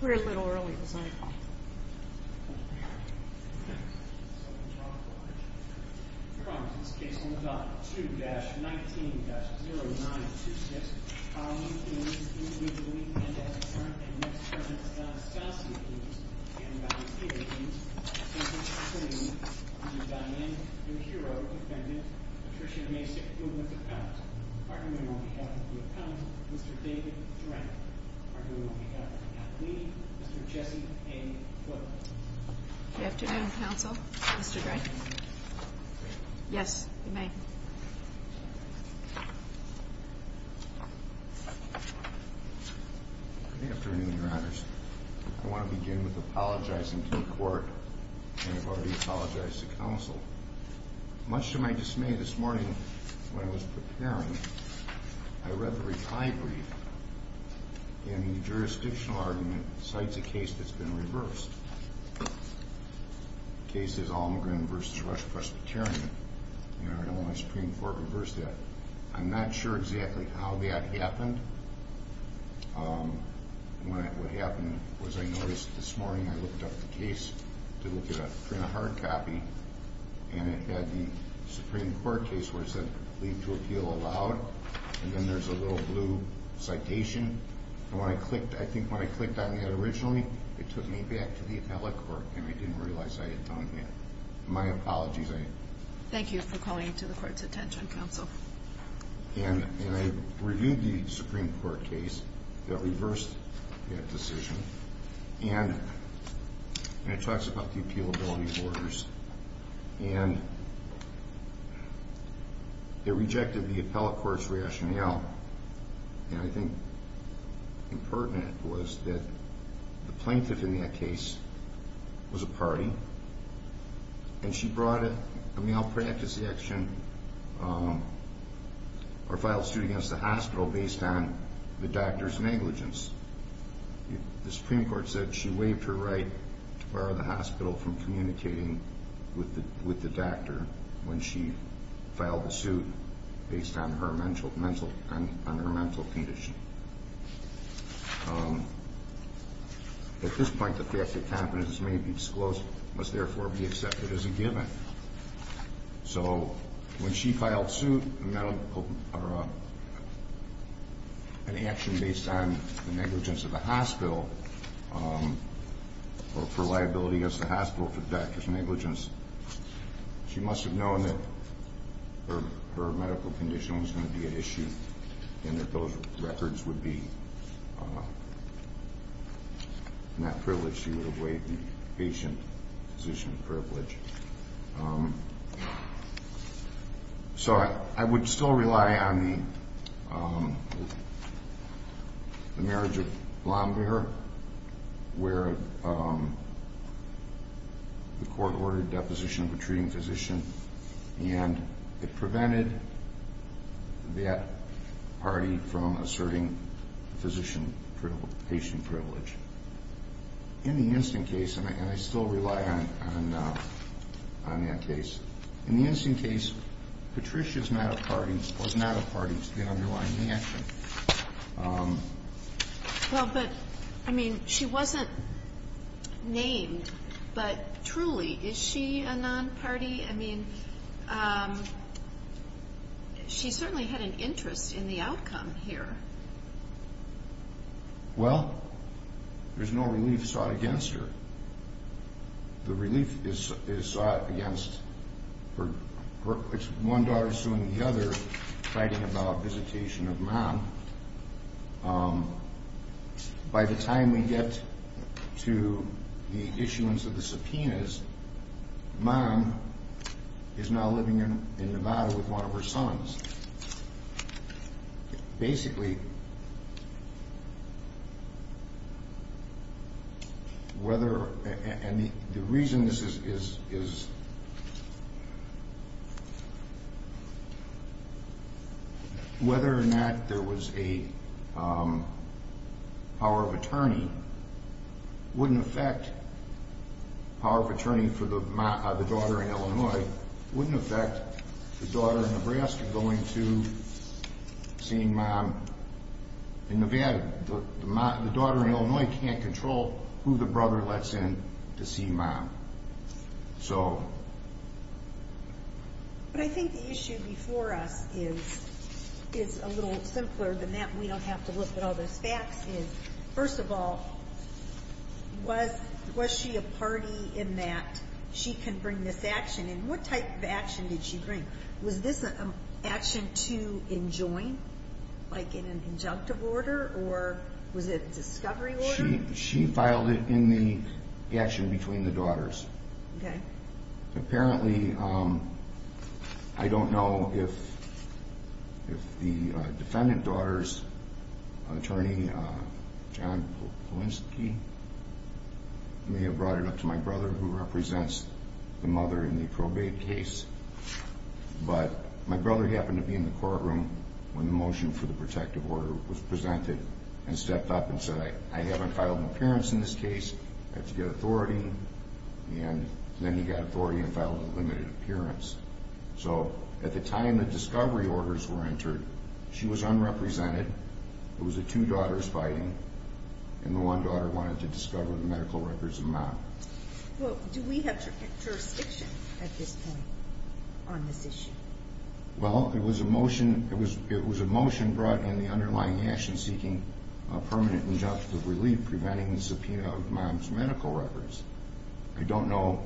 We're a little early, so I apologize. Your Honor, in this case under Doctrine 2-19-0926, I'll need the names of the individuals we can identify, and next, I'll need the names of the assassins accused, and the names of the agents, including Mr. Dianne Yahiro, defendant, Patricia Masick, woman defendant, arguing on behalf of the defendant, Mr. David Drank, arguing on behalf of the defendant, Mr. Jesse A. Wood. Good afternoon, Counsel. Mr. Gray. Yes, you may. Good afternoon, Your Honors. I want to begin with apologizing to the Court, and I've already apologized to Counsel. Much to my dismay this morning, when I was preparing, I read the reply brief, and the jurisdictional argument cites a case that's been reversed. The case is Almagren v. Rush Presbyterian. The Illinois Supreme Court reversed that. I'm not sure exactly how that happened. What happened was I noticed this morning, I looked up the case to print a hard copy, and it had the Supreme Court case where it said leave to appeal allowed, and then there's a little blue citation. I think when I clicked on that originally, it took me back to the appellate court, and I didn't realize I had done that. My apologies. Thank you for calling to the Court's attention, Counsel. And I reviewed the Supreme Court case that reversed that decision, and it talks about the appealability orders. And it rejected the appellate court's rationale, and I think important was that the plaintiff in that case was a party, and she brought a malpractice action or filed suit against the hospital based on the doctor's negligence. The Supreme Court said she waived her right to bar the hospital from communicating with the doctor when she filed the suit based on her mental condition. At this point, the fact that confidence may be disclosed must therefore be accepted as a given. So when she filed suit, an action based on the negligence of the hospital or for liability against the hospital for the doctor's negligence, she must have known that her medical condition was going to be at issue and that those records would be not privileged. She would have waived the patient position of privilege. So I would still rely on the marriage of Blomberg where the court ordered deposition of a treating physician, and it prevented that party from asserting the physician-patient privilege. In the instant case, and I still rely on that case, in the instant case, Patricia is not a party to the underlying action. Well, but, I mean, she wasn't named, but truly, is she a non-party? I mean, she certainly had an interest in the outcome here. Well, there's no relief sought against her. The relief is sought against her. It's one daughter suing the other, fighting about visitation of mom. By the time we get to the issuance of the subpoenas, mom is now living in Nevada with one of her sons. Basically, whether, and the reason this is, whether or not there was a power of attorney wouldn't affect power of attorney for the daughter in Illinois, going to see mom in Nevada. The daughter in Illinois can't control who the brother lets in to see mom. But I think the issue before us is a little simpler than that. We don't have to look at all those facts. First of all, was she a party in that she can bring this action? And what type of action did she bring? Was this an action to enjoin, like in an injunctive order, or was it a discovery order? She filed it in the action between the daughters. Okay. Apparently, I don't know if the defendant daughter's attorney, John Polinski, may have brought it up to my brother, who represents the mother in the probate case. But my brother happened to be in the courtroom when the motion for the protective order was presented and stepped up and said, I haven't filed an appearance in this case. I have to get authority. And then he got authority and filed a limited appearance. So at the time the discovery orders were entered, she was unrepresented. It was the two daughters fighting, and the one daughter wanted to discover the medical records of the mom. Do we have jurisdiction at this point on this issue? Well, it was a motion brought in the underlying action seeking a permanent injunctive relief preventing the subpoena of mom's medical records. I don't know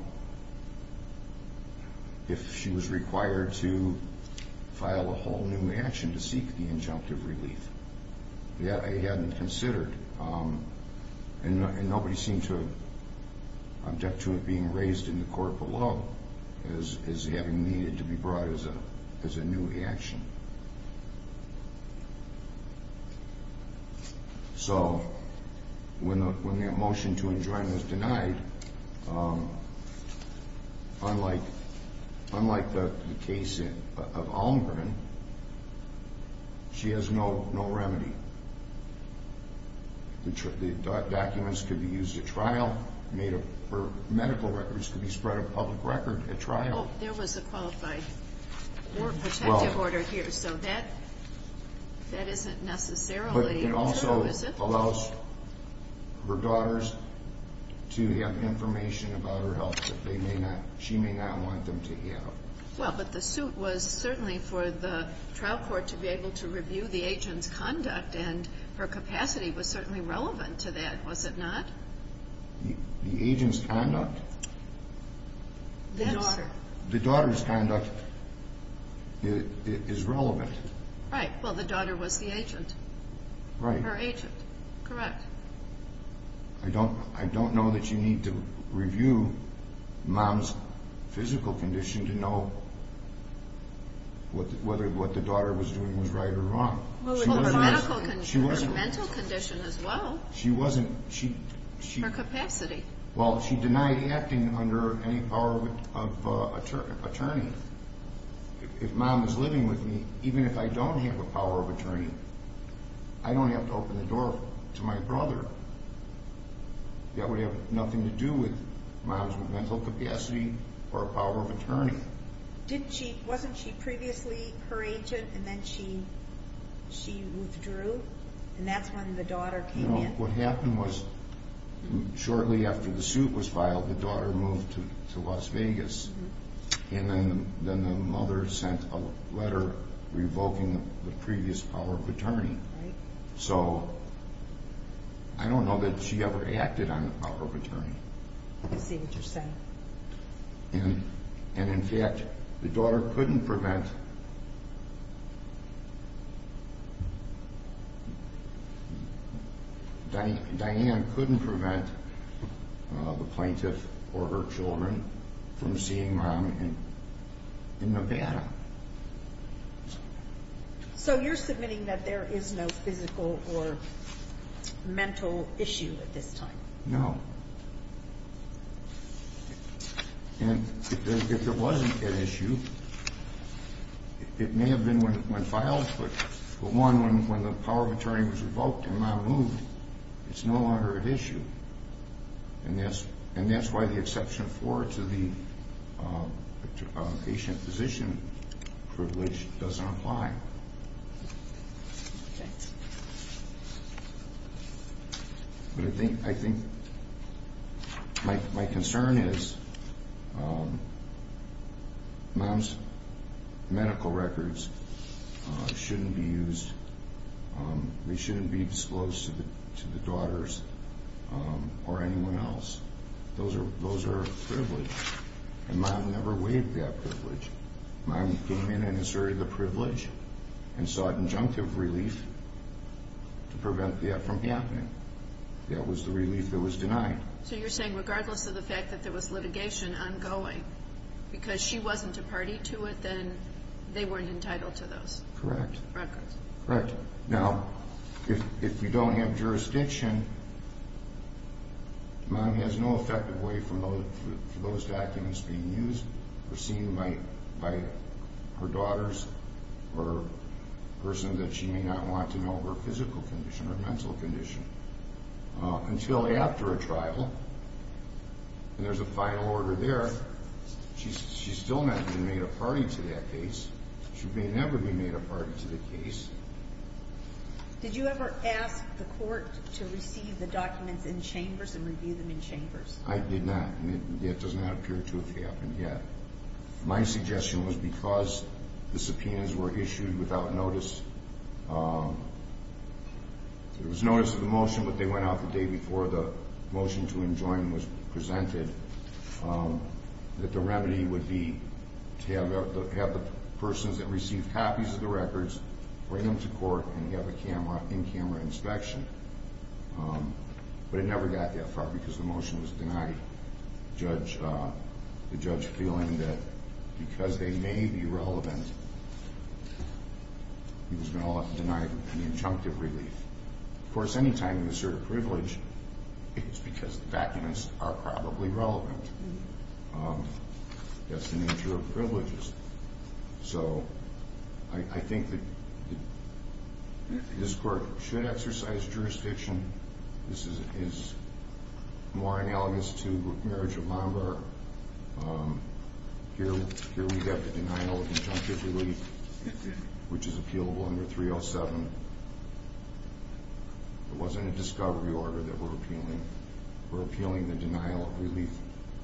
if she was required to file a whole new action to seek the injunctive relief. I hadn't considered. And nobody seemed to object to it being raised in the court below as having needed to be brought as a new action. So when that motion to enjoin was denied, unlike the case of Almgren, she has no remedy. The documents could be used at trial. Her medical records could be spread at public record at trial. There was a qualified protective order here, so that isn't necessarily true, is it? It allows her daughters to have information about her health that she may not want them to have. Well, but the suit was certainly for the trial court to be able to review the agent's conduct, and her capacity was certainly relevant to that, was it not? The agent's conduct? The daughter. The daughter's conduct is relevant. Right. Well, the daughter was the agent. Right. Her agent, correct. I don't know that you need to review Mom's physical condition to know whether what the daughter was doing was right or wrong. Well, her medical condition, her mental condition as well. She wasn't. Her capacity. Well, she denied acting under any power of attorney. If Mom was living with me, even if I don't have a power of attorney, I don't have to open the door to my brother. That would have nothing to do with Mom's mental capacity or power of attorney. Wasn't she previously her agent and then she withdrew, and that's when the daughter came in? No, what happened was shortly after the suit was filed, the daughter moved to Las Vegas, and then the mother sent a letter revoking the previous power of attorney. Right. So I don't know that she ever acted on the power of attorney. I see what you're saying. And, in fact, the daughter couldn't prevent Diane couldn't prevent the plaintiff or her children from seeing Mom in Nevada. So you're submitting that there is no physical or mental issue at this time? No. And if there wasn't an issue, it may have been a mental issue. It may have been when filed, but, for one, when the power of attorney was revoked and Mom moved, it's no longer an issue. And that's why the exception four to the patient-physician privilege doesn't apply. Okay. But I think my concern is Mom's medical records shouldn't be used. They shouldn't be disclosed to the daughters or anyone else. Those are a privilege, and Mom never waived that privilege. Mom came in and asserted the privilege and sought injunctive relief to prevent that from happening. That was the relief that was denied. So you're saying regardless of the fact that there was litigation ongoing, because she wasn't a party to it, then they weren't entitled to those records? Correct. Now, if you don't have jurisdiction, Mom has no effective way for those documents being used or seen by her daughters or a person that she may not want to know her physical condition, her mental condition, until after a trial. And there's a final order there. She still hasn't been made a party to that case. She may never be made a party to the case. Did you ever ask the court to receive the documents in chambers and review them in chambers? I did not, and it does not appear to have happened yet. My suggestion was because the subpoenas were issued without notice. There was notice of the motion, but they went out the day before the motion to enjoin was presented, that the remedy would be to have the persons that received copies of the records bring them to court and have a camera, in-camera inspection. But it never got that far because the motion was denied, the judge feeling that because they may be relevant, he was going to deny the injunctive relief. Of course, any time you assert a privilege, it's because the documents are probably relevant. That's the nature of privileges. So I think that this court should exercise jurisdiction. This is more analogous to marriage of Lombard. Here we have the denial of injunctive relief, which is appealable under 307. It wasn't a discovery order that we're appealing. We're appealing the denial of relief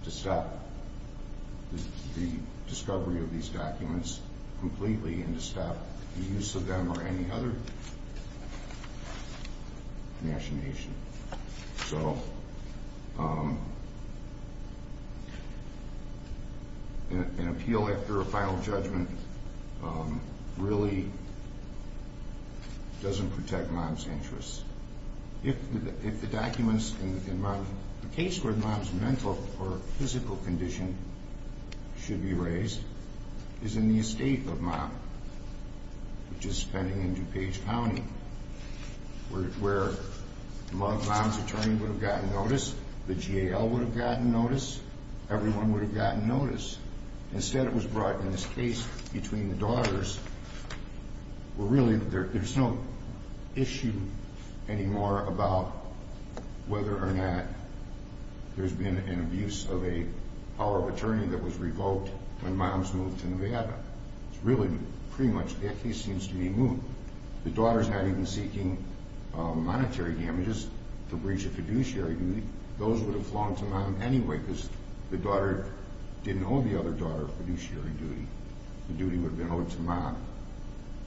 to stop the discovery of these documents completely and to stop the use of them or any other machination. So an appeal after a final judgment really doesn't protect mom's interests. If the documents in the case where mom's mental or physical condition should be raised is in the estate of mom, which is pending in DuPage County, where mom's attorney would have gotten notice, the GAL would have gotten notice, everyone would have gotten notice. Instead, it was brought in this case between the daughters, where really there's no issue anymore about whether or not there's been an abuse of a power of attorney that was revoked when mom's moved to Nevada. It's really pretty much that case seems to be moved. The daughter's not even seeking monetary damages to breach a fiduciary duty. Those would have flown to mom anyway because the daughter didn't owe the other daughter a fiduciary duty. The duty would have been owed to mom.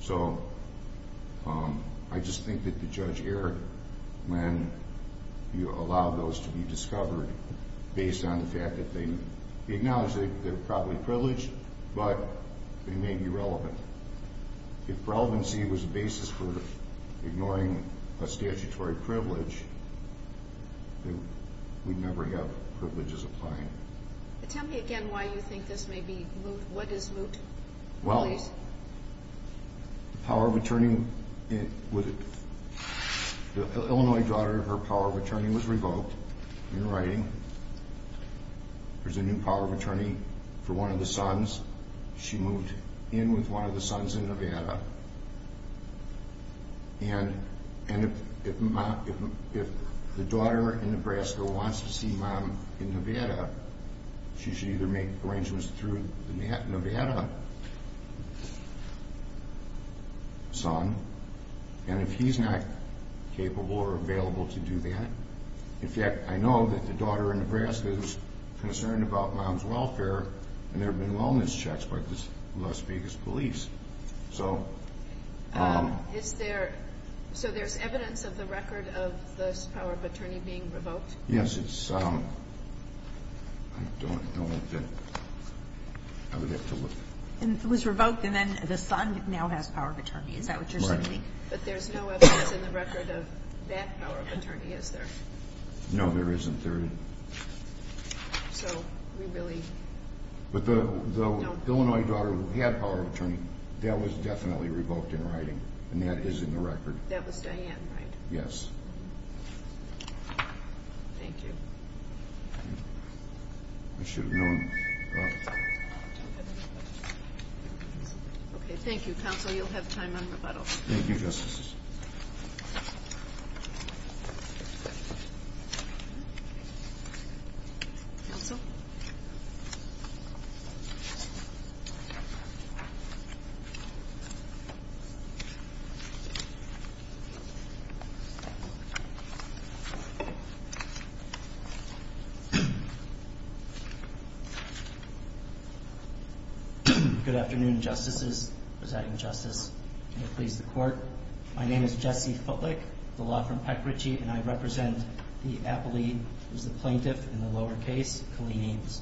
So I just think that the judge erred when you allowed those to be discovered based on the fact that they acknowledge they're probably privileged, but they may be relevant. If relevancy was the basis for ignoring a statutory privilege, we'd never have privileges applying. Tell me again why you think this may be moot. What is moot? Well, the Illinois daughter, her power of attorney was revoked in writing. There's a new power of attorney for one of the sons. She moved in with one of the sons in Nevada. And if the daughter in Nebraska wants to see mom in Nevada, she should either make arrangements through the Nevada son, and if he's not capable or available to do that, in fact, I know that the daughter in Nebraska is concerned about mom's welfare and there have been wellness checks by the Las Vegas police. So there's evidence of the record of this power of attorney being revoked? Yes. I don't know. I would have to look. It was revoked and then the son now has power of attorney. Is that what you're saying? Right. But there's no evidence in the record of that power of attorney, is there? No, there isn't. So we really don't know. But the Illinois daughter who had power of attorney, that was definitely revoked in writing, and that is in the record. That was Diane, right? Yes. Thank you. I should have known. Okay, thank you, counsel. You'll have time on rebuttal. Thank you, Justices. Counsel? Thank you. Good afternoon, Justices, Presiding Justice, and please, the Court. My name is Jesse Futlick, the law firm Peck Ritchie, and I represent the appellee who's the plaintiff in the lower case, Colleen Eames.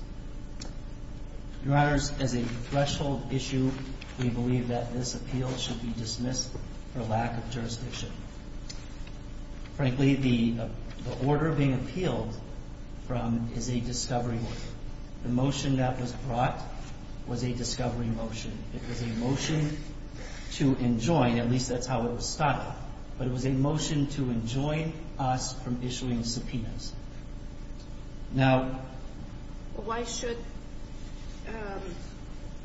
Your Honors, as a threshold issue, we believe that this appeal should be dismissed for lack of jurisdiction. Frankly, the order being appealed from is a discovery order. The motion that was brought was a discovery motion. It was a motion to enjoin, at least that's how it was started, but it was a motion to enjoin us from issuing subpoenas. Now, why should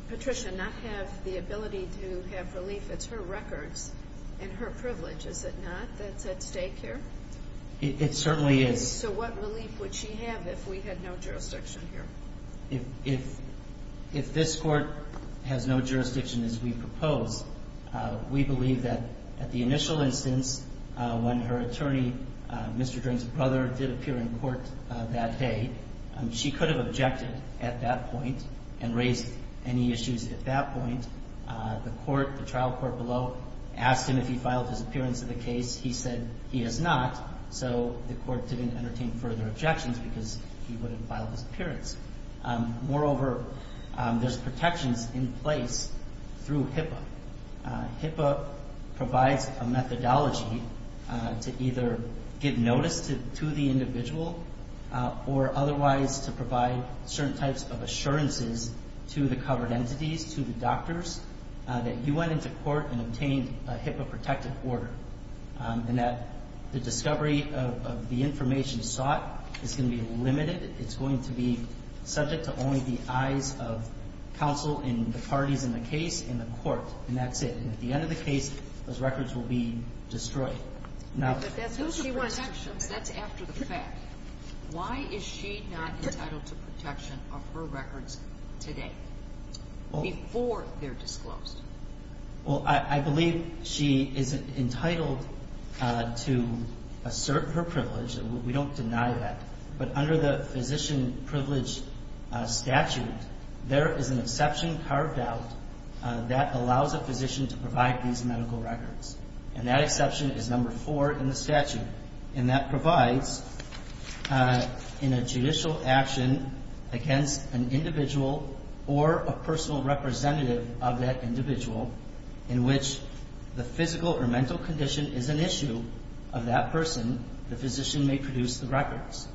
Patricia not have the ability to have relief? It's her records and her privilege, is it not, that's at stake here? It certainly is. So what relief would she have if we had no jurisdiction here? If this Court has no jurisdiction as we propose, we believe that at the initial instance, when her attorney, Mr. Drain's brother, did appear in court that day, she could have objected at that point and raised any issues at that point. The court, the trial court below, asked him if he filed his appearance in the case. He said he has not. So the court didn't entertain further objections because he wouldn't file his appearance. Moreover, there's protections in place through HIPAA. HIPAA provides a methodology to either give notice to the individual or otherwise to provide certain types of assurances to the covered entities, to the doctors, that you went into court and obtained a HIPAA-protected order. And that the discovery of the information sought is going to be limited. It's going to be subject to only the eyes of counsel and the parties in the case and the court. And that's it. And at the end of the case, those records will be destroyed. But that's after the fact. Why is she not entitled to protection of her records today, before they're disclosed? Well, I believe she is entitled to assert her privilege. We don't deny that. But under the physician privilege statute, there is an exception carved out that allows a physician to provide these medical records. And that provides in a judicial action against an individual or a personal representative of that individual in which the physical or mental condition is an issue of that person, the physician may produce the records.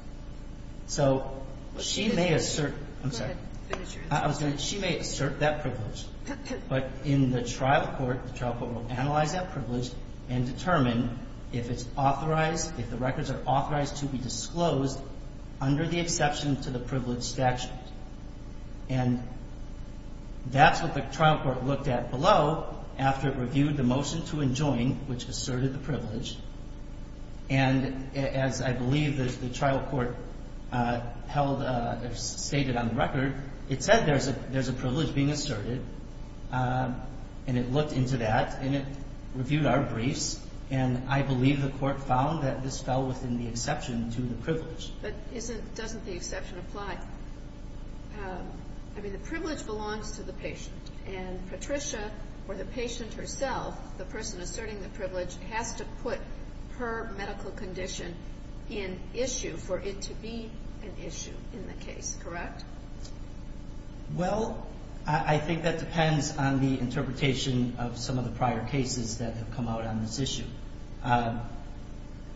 So she may assert that privilege. But in the trial court, the trial court will analyze that privilege and determine if it's authorized, if the records are authorized to be disclosed under the exception to the privilege statute. And that's what the trial court looked at below after it reviewed the motion to enjoin, which asserted the privilege. And as I believe the trial court held or stated on the record, it said there's a privilege being asserted. And it looked into that and it reviewed our briefs. And I believe the court found that this fell within the exception to the privilege. But doesn't the exception apply? I mean, the privilege belongs to the patient. And Patricia or the patient herself, the person asserting the privilege, has to put her medical condition in issue for it to be an issue in the case, correct? Well, I think that depends on the interpretation of some of the prior cases that have come out on this issue.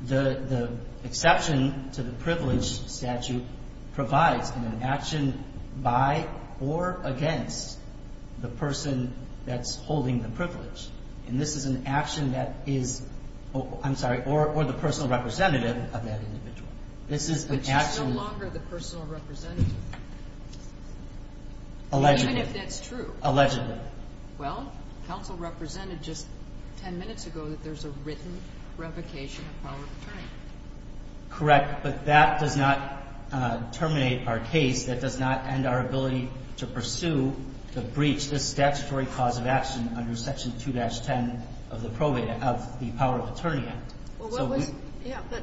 The exception to the privilege statute provides an action by or against the person that's holding the privilege. And this is an action that is, I'm sorry, or the personal representative of that individual. Which is no longer the personal representative. Allegedly. Even if that's true. Allegedly. Well, counsel represented just 10 minutes ago that there's a written revocation of power of attorney. Correct. But that does not terminate our case. That does not end our ability to pursue the breach. This statutory cause of action under section 2-10 of the power of attorney act. Yeah, but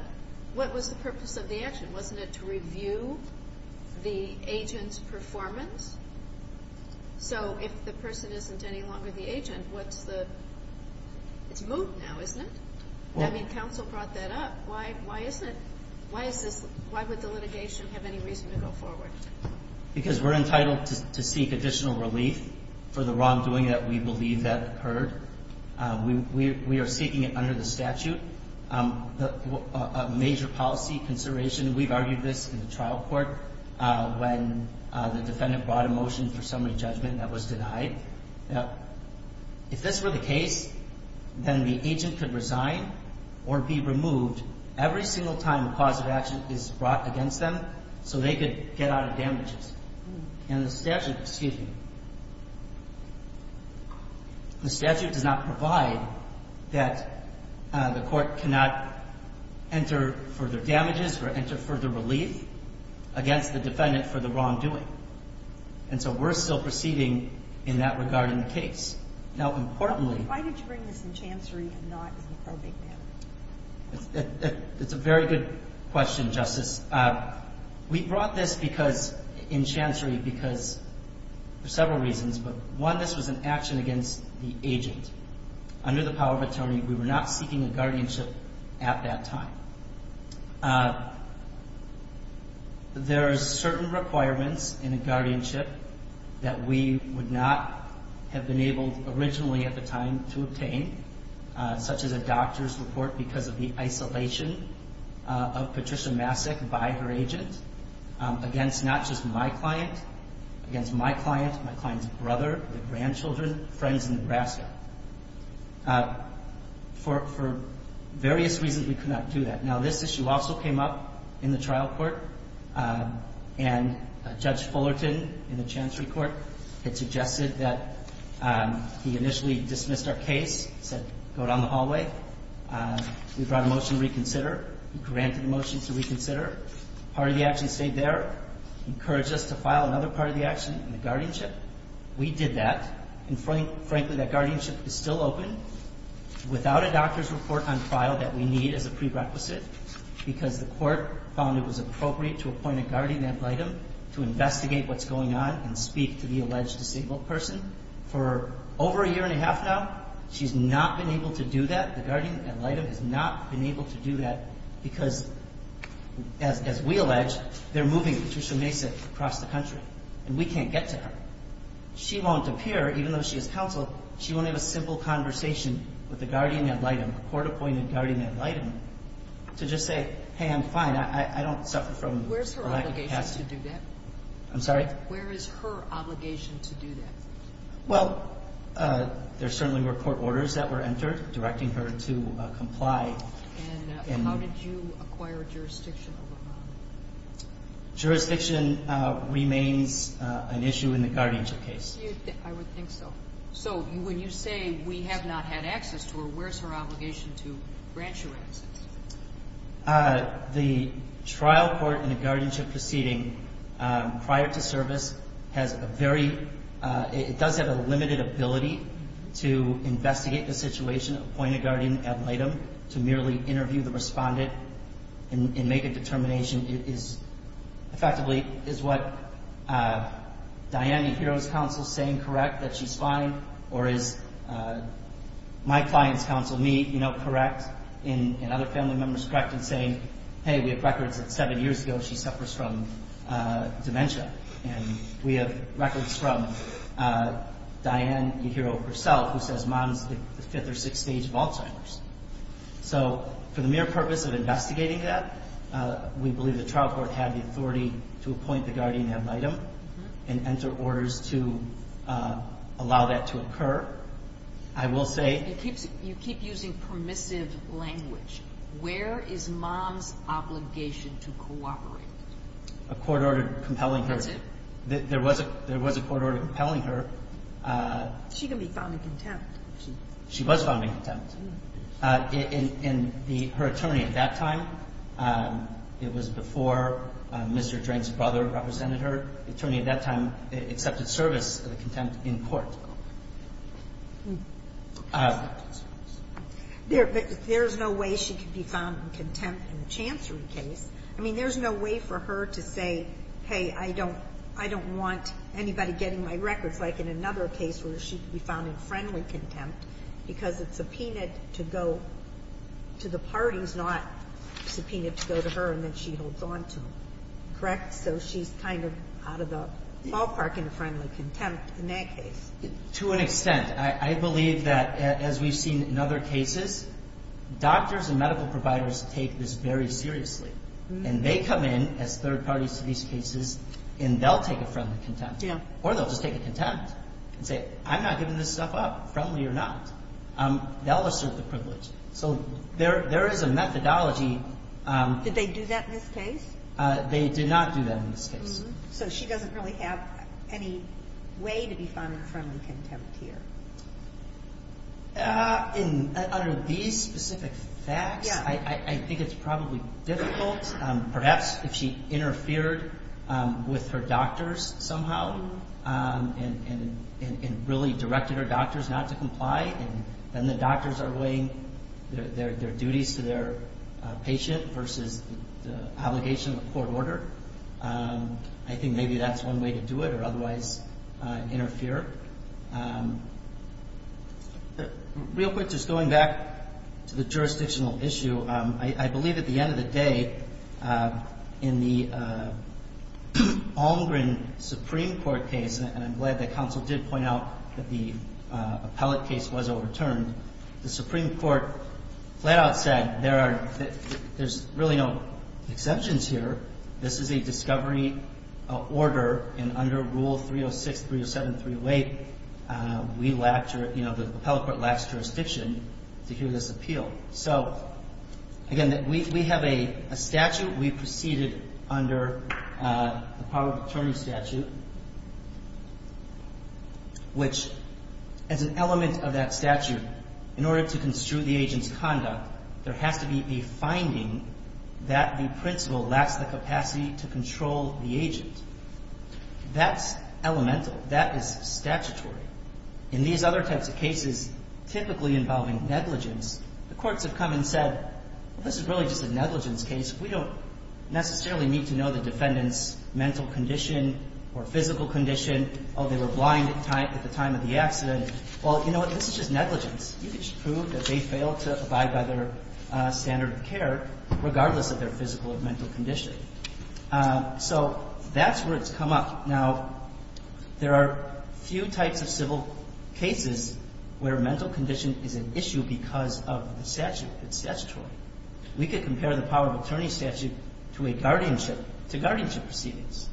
what was the purpose of the action? Wasn't it to review the agent's performance? So if the person isn't any longer the agent, what's the, it's moved now, isn't it? I mean, counsel brought that up. Why would the litigation have any reason to go forward? Because we're entitled to seek additional relief for the wrongdoing that we believe that occurred. We are seeking it under the statute. A major policy consideration, we've argued this in the trial court when the defendant brought a motion for summary judgment that was denied. Now, if this were the case, then the agent could resign or be removed every single time a cause of action is brought against them so they could get out of damages. And the statute, excuse me, the statute does not provide that the court cannot enter further damages or enter further relief against the defendant for the wrongdoing. And so we're still proceeding in that regard in the case. Now, importantly. Why did you bring this in chancery and not in the probate manner? It's a very good question, Justice. We brought this because, in chancery, because for several reasons. But one, this was an action against the agent. Under the power of attorney, we were not seeking a guardianship at that time. There are certain requirements in a guardianship that we would not have been able originally at the time to obtain, such as a doctor's report because of the isolation of Patricia Masik by her agent against not just my client, against my client, my client's brother, their grandchildren, friends in Nebraska. For various reasons, we could not do that. Now, this issue also came up in the trial court. And Judge Fullerton in the chancery court had suggested that he initially dismissed our case, said go down the hallway. We brought a motion to reconsider. He granted a motion to reconsider. Part of the action stayed there. Encouraged us to file another part of the action in the guardianship. We did that. And, frankly, that guardianship is still open without a doctor's report on trial that we need as a prerequisite because the court found it was appropriate to appoint a guardian ad litem to investigate what's going on and speak to the alleged disabled person. For over a year and a half now, she's not been able to do that. The guardian ad litem has not been able to do that because, as we allege, they're moving Patricia Masik across the country. And we can't get to her. She won't appear, even though she is counsel. She won't have a simple conversation with a guardian ad litem, a court-appointed guardian ad litem, to just say, hey, I'm fine. I don't suffer from a lack of capacity. Where's her obligation to do that? I'm sorry? Where is her obligation to do that? Well, there certainly were court orders that were entered directing her to comply. And how did you acquire jurisdiction over her? Jurisdiction remains an issue in the guardianship case. I would think so. So when you say we have not had access to her, where is her obligation to grant you access? The trial court in a guardianship proceeding prior to service has a very ‑‑ it does have a limited ability to investigate the situation, appoint a guardian ad litem to merely interview the respondent and make a determination, is effectively is what Diane Yahiro's counsel is saying correct, that she's fine? Or is my client's counsel, me, you know, correct? And other family members correct in saying, hey, we have records that seven years ago she suffers from dementia. And we have records from Diane Yahiro herself who says mom's the fifth or sixth stage of Alzheimer's. So for the mere purpose of investigating that, we believe the trial court had the authority to appoint the guardian ad litem and enter orders to allow that to occur. I will say ‑‑ You keep using permissive language. Where is mom's obligation to cooperate? A court order compelling her. That's it? There was a court order compelling her. She can be found in contempt. She was found in contempt. And her attorney at that time, it was before Mr. Drank's brother represented her, the attorney at that time accepted service of the contempt in court. There is no way she can be found in contempt in a chancery case. I mean, there's no way for her to say, hey, I don't want anybody getting my records. Like in another case where she can be found in friendly contempt because it's subpoenaed to go to the parties, not subpoenaed to go to her and then she holds on to them. Correct? So she's kind of out of the ballpark in a friendly contempt in that case. To an extent. I believe that as we've seen in other cases, doctors and medical providers take this very seriously. And they come in as third parties to these cases and they'll take a friendly contempt. Or they'll just take a contempt and say, I'm not giving this stuff up, friendly or not. They'll assert the privilege. So there is a methodology. Did they do that in this case? They did not do that in this case. So she doesn't really have any way to be found in friendly contempt here. Under these specific facts, I think it's probably difficult. Perhaps if she interfered with her doctors somehow and really directed her doctors not to comply, and then the doctors are weighing their duties to their patient versus the obligation of a court order. I think maybe that's one way to do it or otherwise interfere. Real quick, just going back to the jurisdictional issue, I believe at the end of the day, in the Almgren Supreme Court case, and I'm glad that counsel did point out that the appellate case was overturned, the Supreme Court flat out said there's really no exceptions here. This is a discovery order, and under Rule 306, 307, 308, the appellate court lacks jurisdiction to hear this appeal. So, again, we have a statute. We proceeded under the power of attorney statute, which as an element of that statute, in order to construe the agent's conduct, there has to be a finding that the principal lacks the capacity to control the agent. That's elemental. That is statutory. In these other types of cases, typically involving negligence, the courts have come and said, well, this is really just a negligence case. We don't necessarily need to know the defendant's mental condition or physical condition. Oh, they were blind at the time of the accident. Well, you know what? This is just negligence. You can just prove that they failed to abide by their standard of care, regardless of their physical or mental condition. So that's where it's come up. Now, there are few types of civil cases where mental condition is an issue because of the statute. It's statutory. We could compare the power of attorney statute to a guardianship, to guardianship proceedings,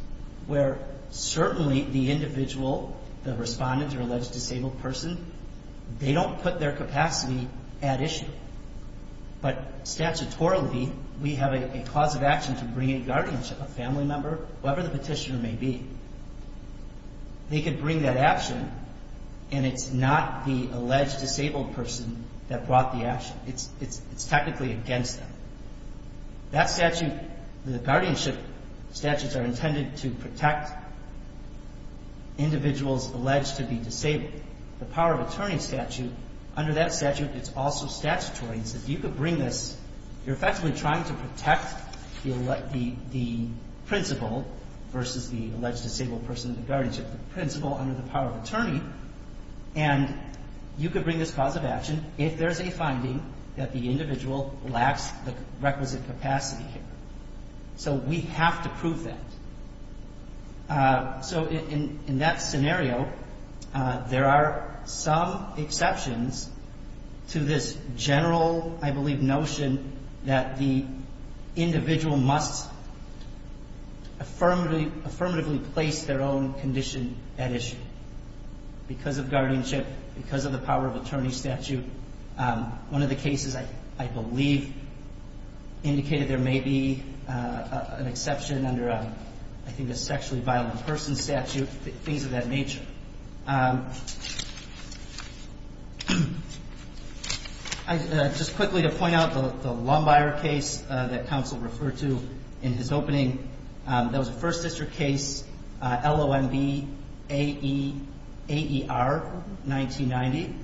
where certainly the individual, the respondent or alleged disabled person, they don't put their capacity at issue. But statutorily, we have a cause of action to bring a guardianship, a family member, whoever the petitioner may be. They could bring that action, and it's not the alleged disabled person that brought the action. It's technically against them. That statute, the guardianship statutes are intended to protect individuals alleged to be disabled. The power of attorney statute, under that statute, it's also statutory. So if you could bring this, you're effectively trying to protect the principal versus the alleged disabled person in the guardianship. The principal under the power of attorney, and you could bring this cause of action if there's a finding that the individual lacks the requisite capacity here. So we have to prove that. So in that scenario, there are some exceptions to this general, I believe, notion that the individual must affirmatively place their own condition at issue because of guardianship, because of the power of attorney statute. One of the cases I believe indicated there may be an exception under, I think, a sexually violent person statute, things of that nature. Just quickly to point out the Lumbier case that counsel referred to in his opening. That was a First District case, L-O-M-B-A-E-R, 1990.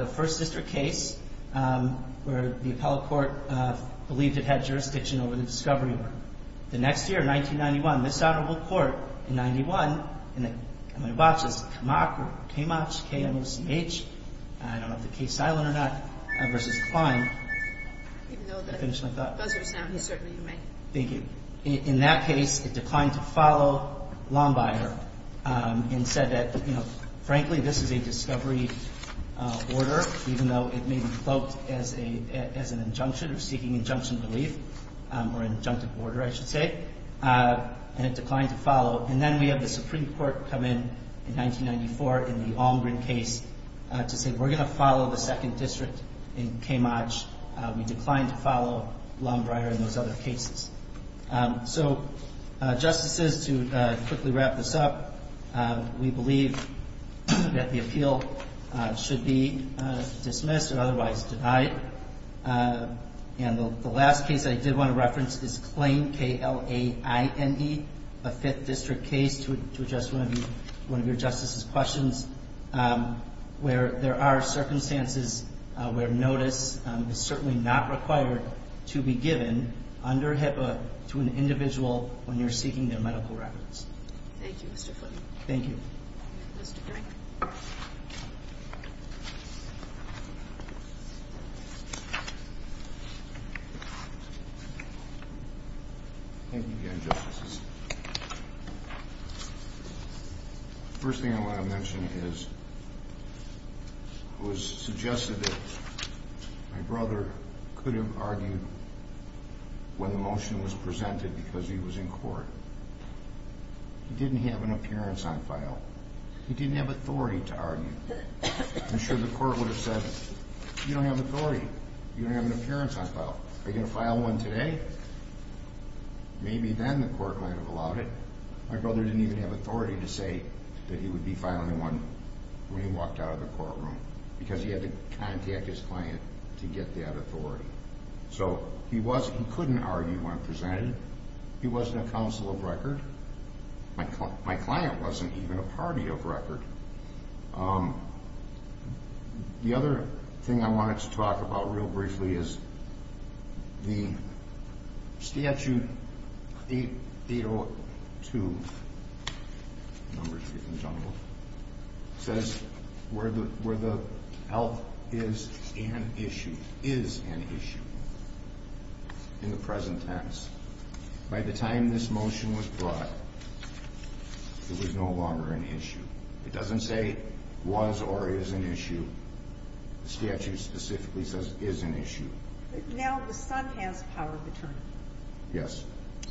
The First District case where the appellate court believed it had jurisdiction over the discovery order. The next year, 1991, this Honorable Court in 91, and I'm going to watch this, Kamach, K-M-O-C-H, I don't know if the case is silent or not, versus Klein. Even though the buzzer is now, you certainly may. In that case, it declined to follow Lumbier and said that, you know, frankly, this is a discovery order, even though it may be voked as an injunction or seeking injunction belief or injunctive order, I should say. And it declined to follow. And then we have the Supreme Court come in in 1994 in the Almgren case to say, we're going to follow the Second District in Kamach. We declined to follow Lumbier in those other cases. So, Justices, to quickly wrap this up, we believe that the appeal should be dismissed or otherwise denied. And the last case I did want to reference is Klein, K-L-A-I-N-E, a Fifth District case, to address one of your Justices' questions, where there are circumstances where notice is certainly not required to be given under HIPAA to an individual when you're seeking their medical records. Thank you, Mr. Foote. Thank you. Mr. Green. Thank you again, Justices. The first thing I want to mention is it was suggested that my brother could have argued when the motion was presented because he was in court. He didn't have an appearance on file. He didn't have authority to argue. I'm sure the court would have said, you don't have authority. You don't have an appearance on file. Are you going to file one today? Maybe then the court might have allowed it. My brother didn't even have authority to say that he would be filing one when he walked out of the courtroom because he had to contact his client to get that authority. So he couldn't argue when presented. He wasn't a counsel of record. My client wasn't even a party of record. The other thing I wanted to talk about real briefly is the Statute 802, Numbers for the Conjugal, says where the health is an issue, is an issue in the present tense. By the time this motion was brought, it was no longer an issue. It doesn't say was or is an issue. The statute specifically says is an issue. Now the son has power of attorney. Yes.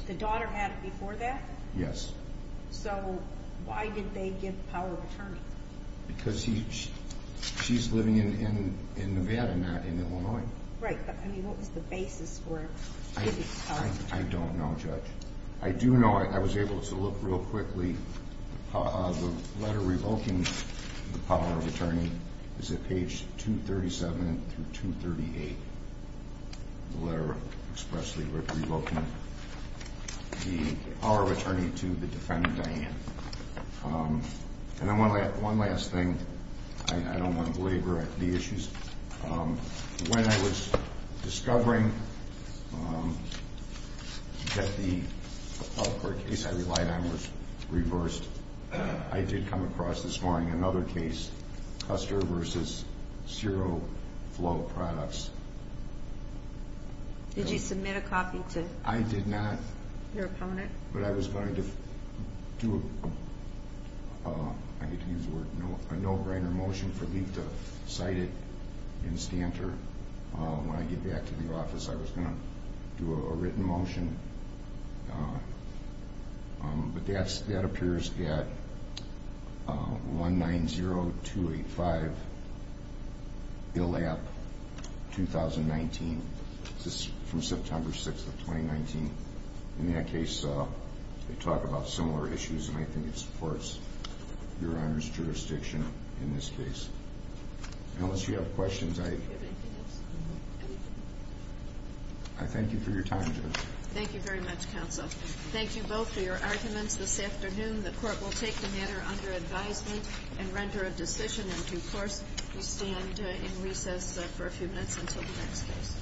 The daughter had it before that? Yes. So why did they give power of attorney? Because she's living in Nevada, not in Illinois. Right, but what was the basis for giving power of attorney? I don't know, Judge. I do know I was able to look real quickly. The letter revoking the power of attorney is at page 237 through 238. The letter expressly revoking the power of attorney to the defendant, Diane. And one last thing. I don't want to belabor the issues. When I was discovering that the public court case I relied on was reversed, I did come across this morning another case, Custer v. Zero Flow Products. Did you submit a copy to your opponent? But I was going to do a no-brainer motion for me to cite it in Stanter. When I get back to the office, I was going to do a written motion. But that appears at 190285, ILAP, 2019. This is from September 6th of 2019. In that case, they talk about similar issues, and I think it supports Your Honor's jurisdiction in this case. Unless you have questions, I thank you for your time, Judge. Thank you very much, counsel. Thank you both for your arguments this afternoon. The court will take the matter under advisement and render a decision in due course. We stand in recess for a few minutes until the next case.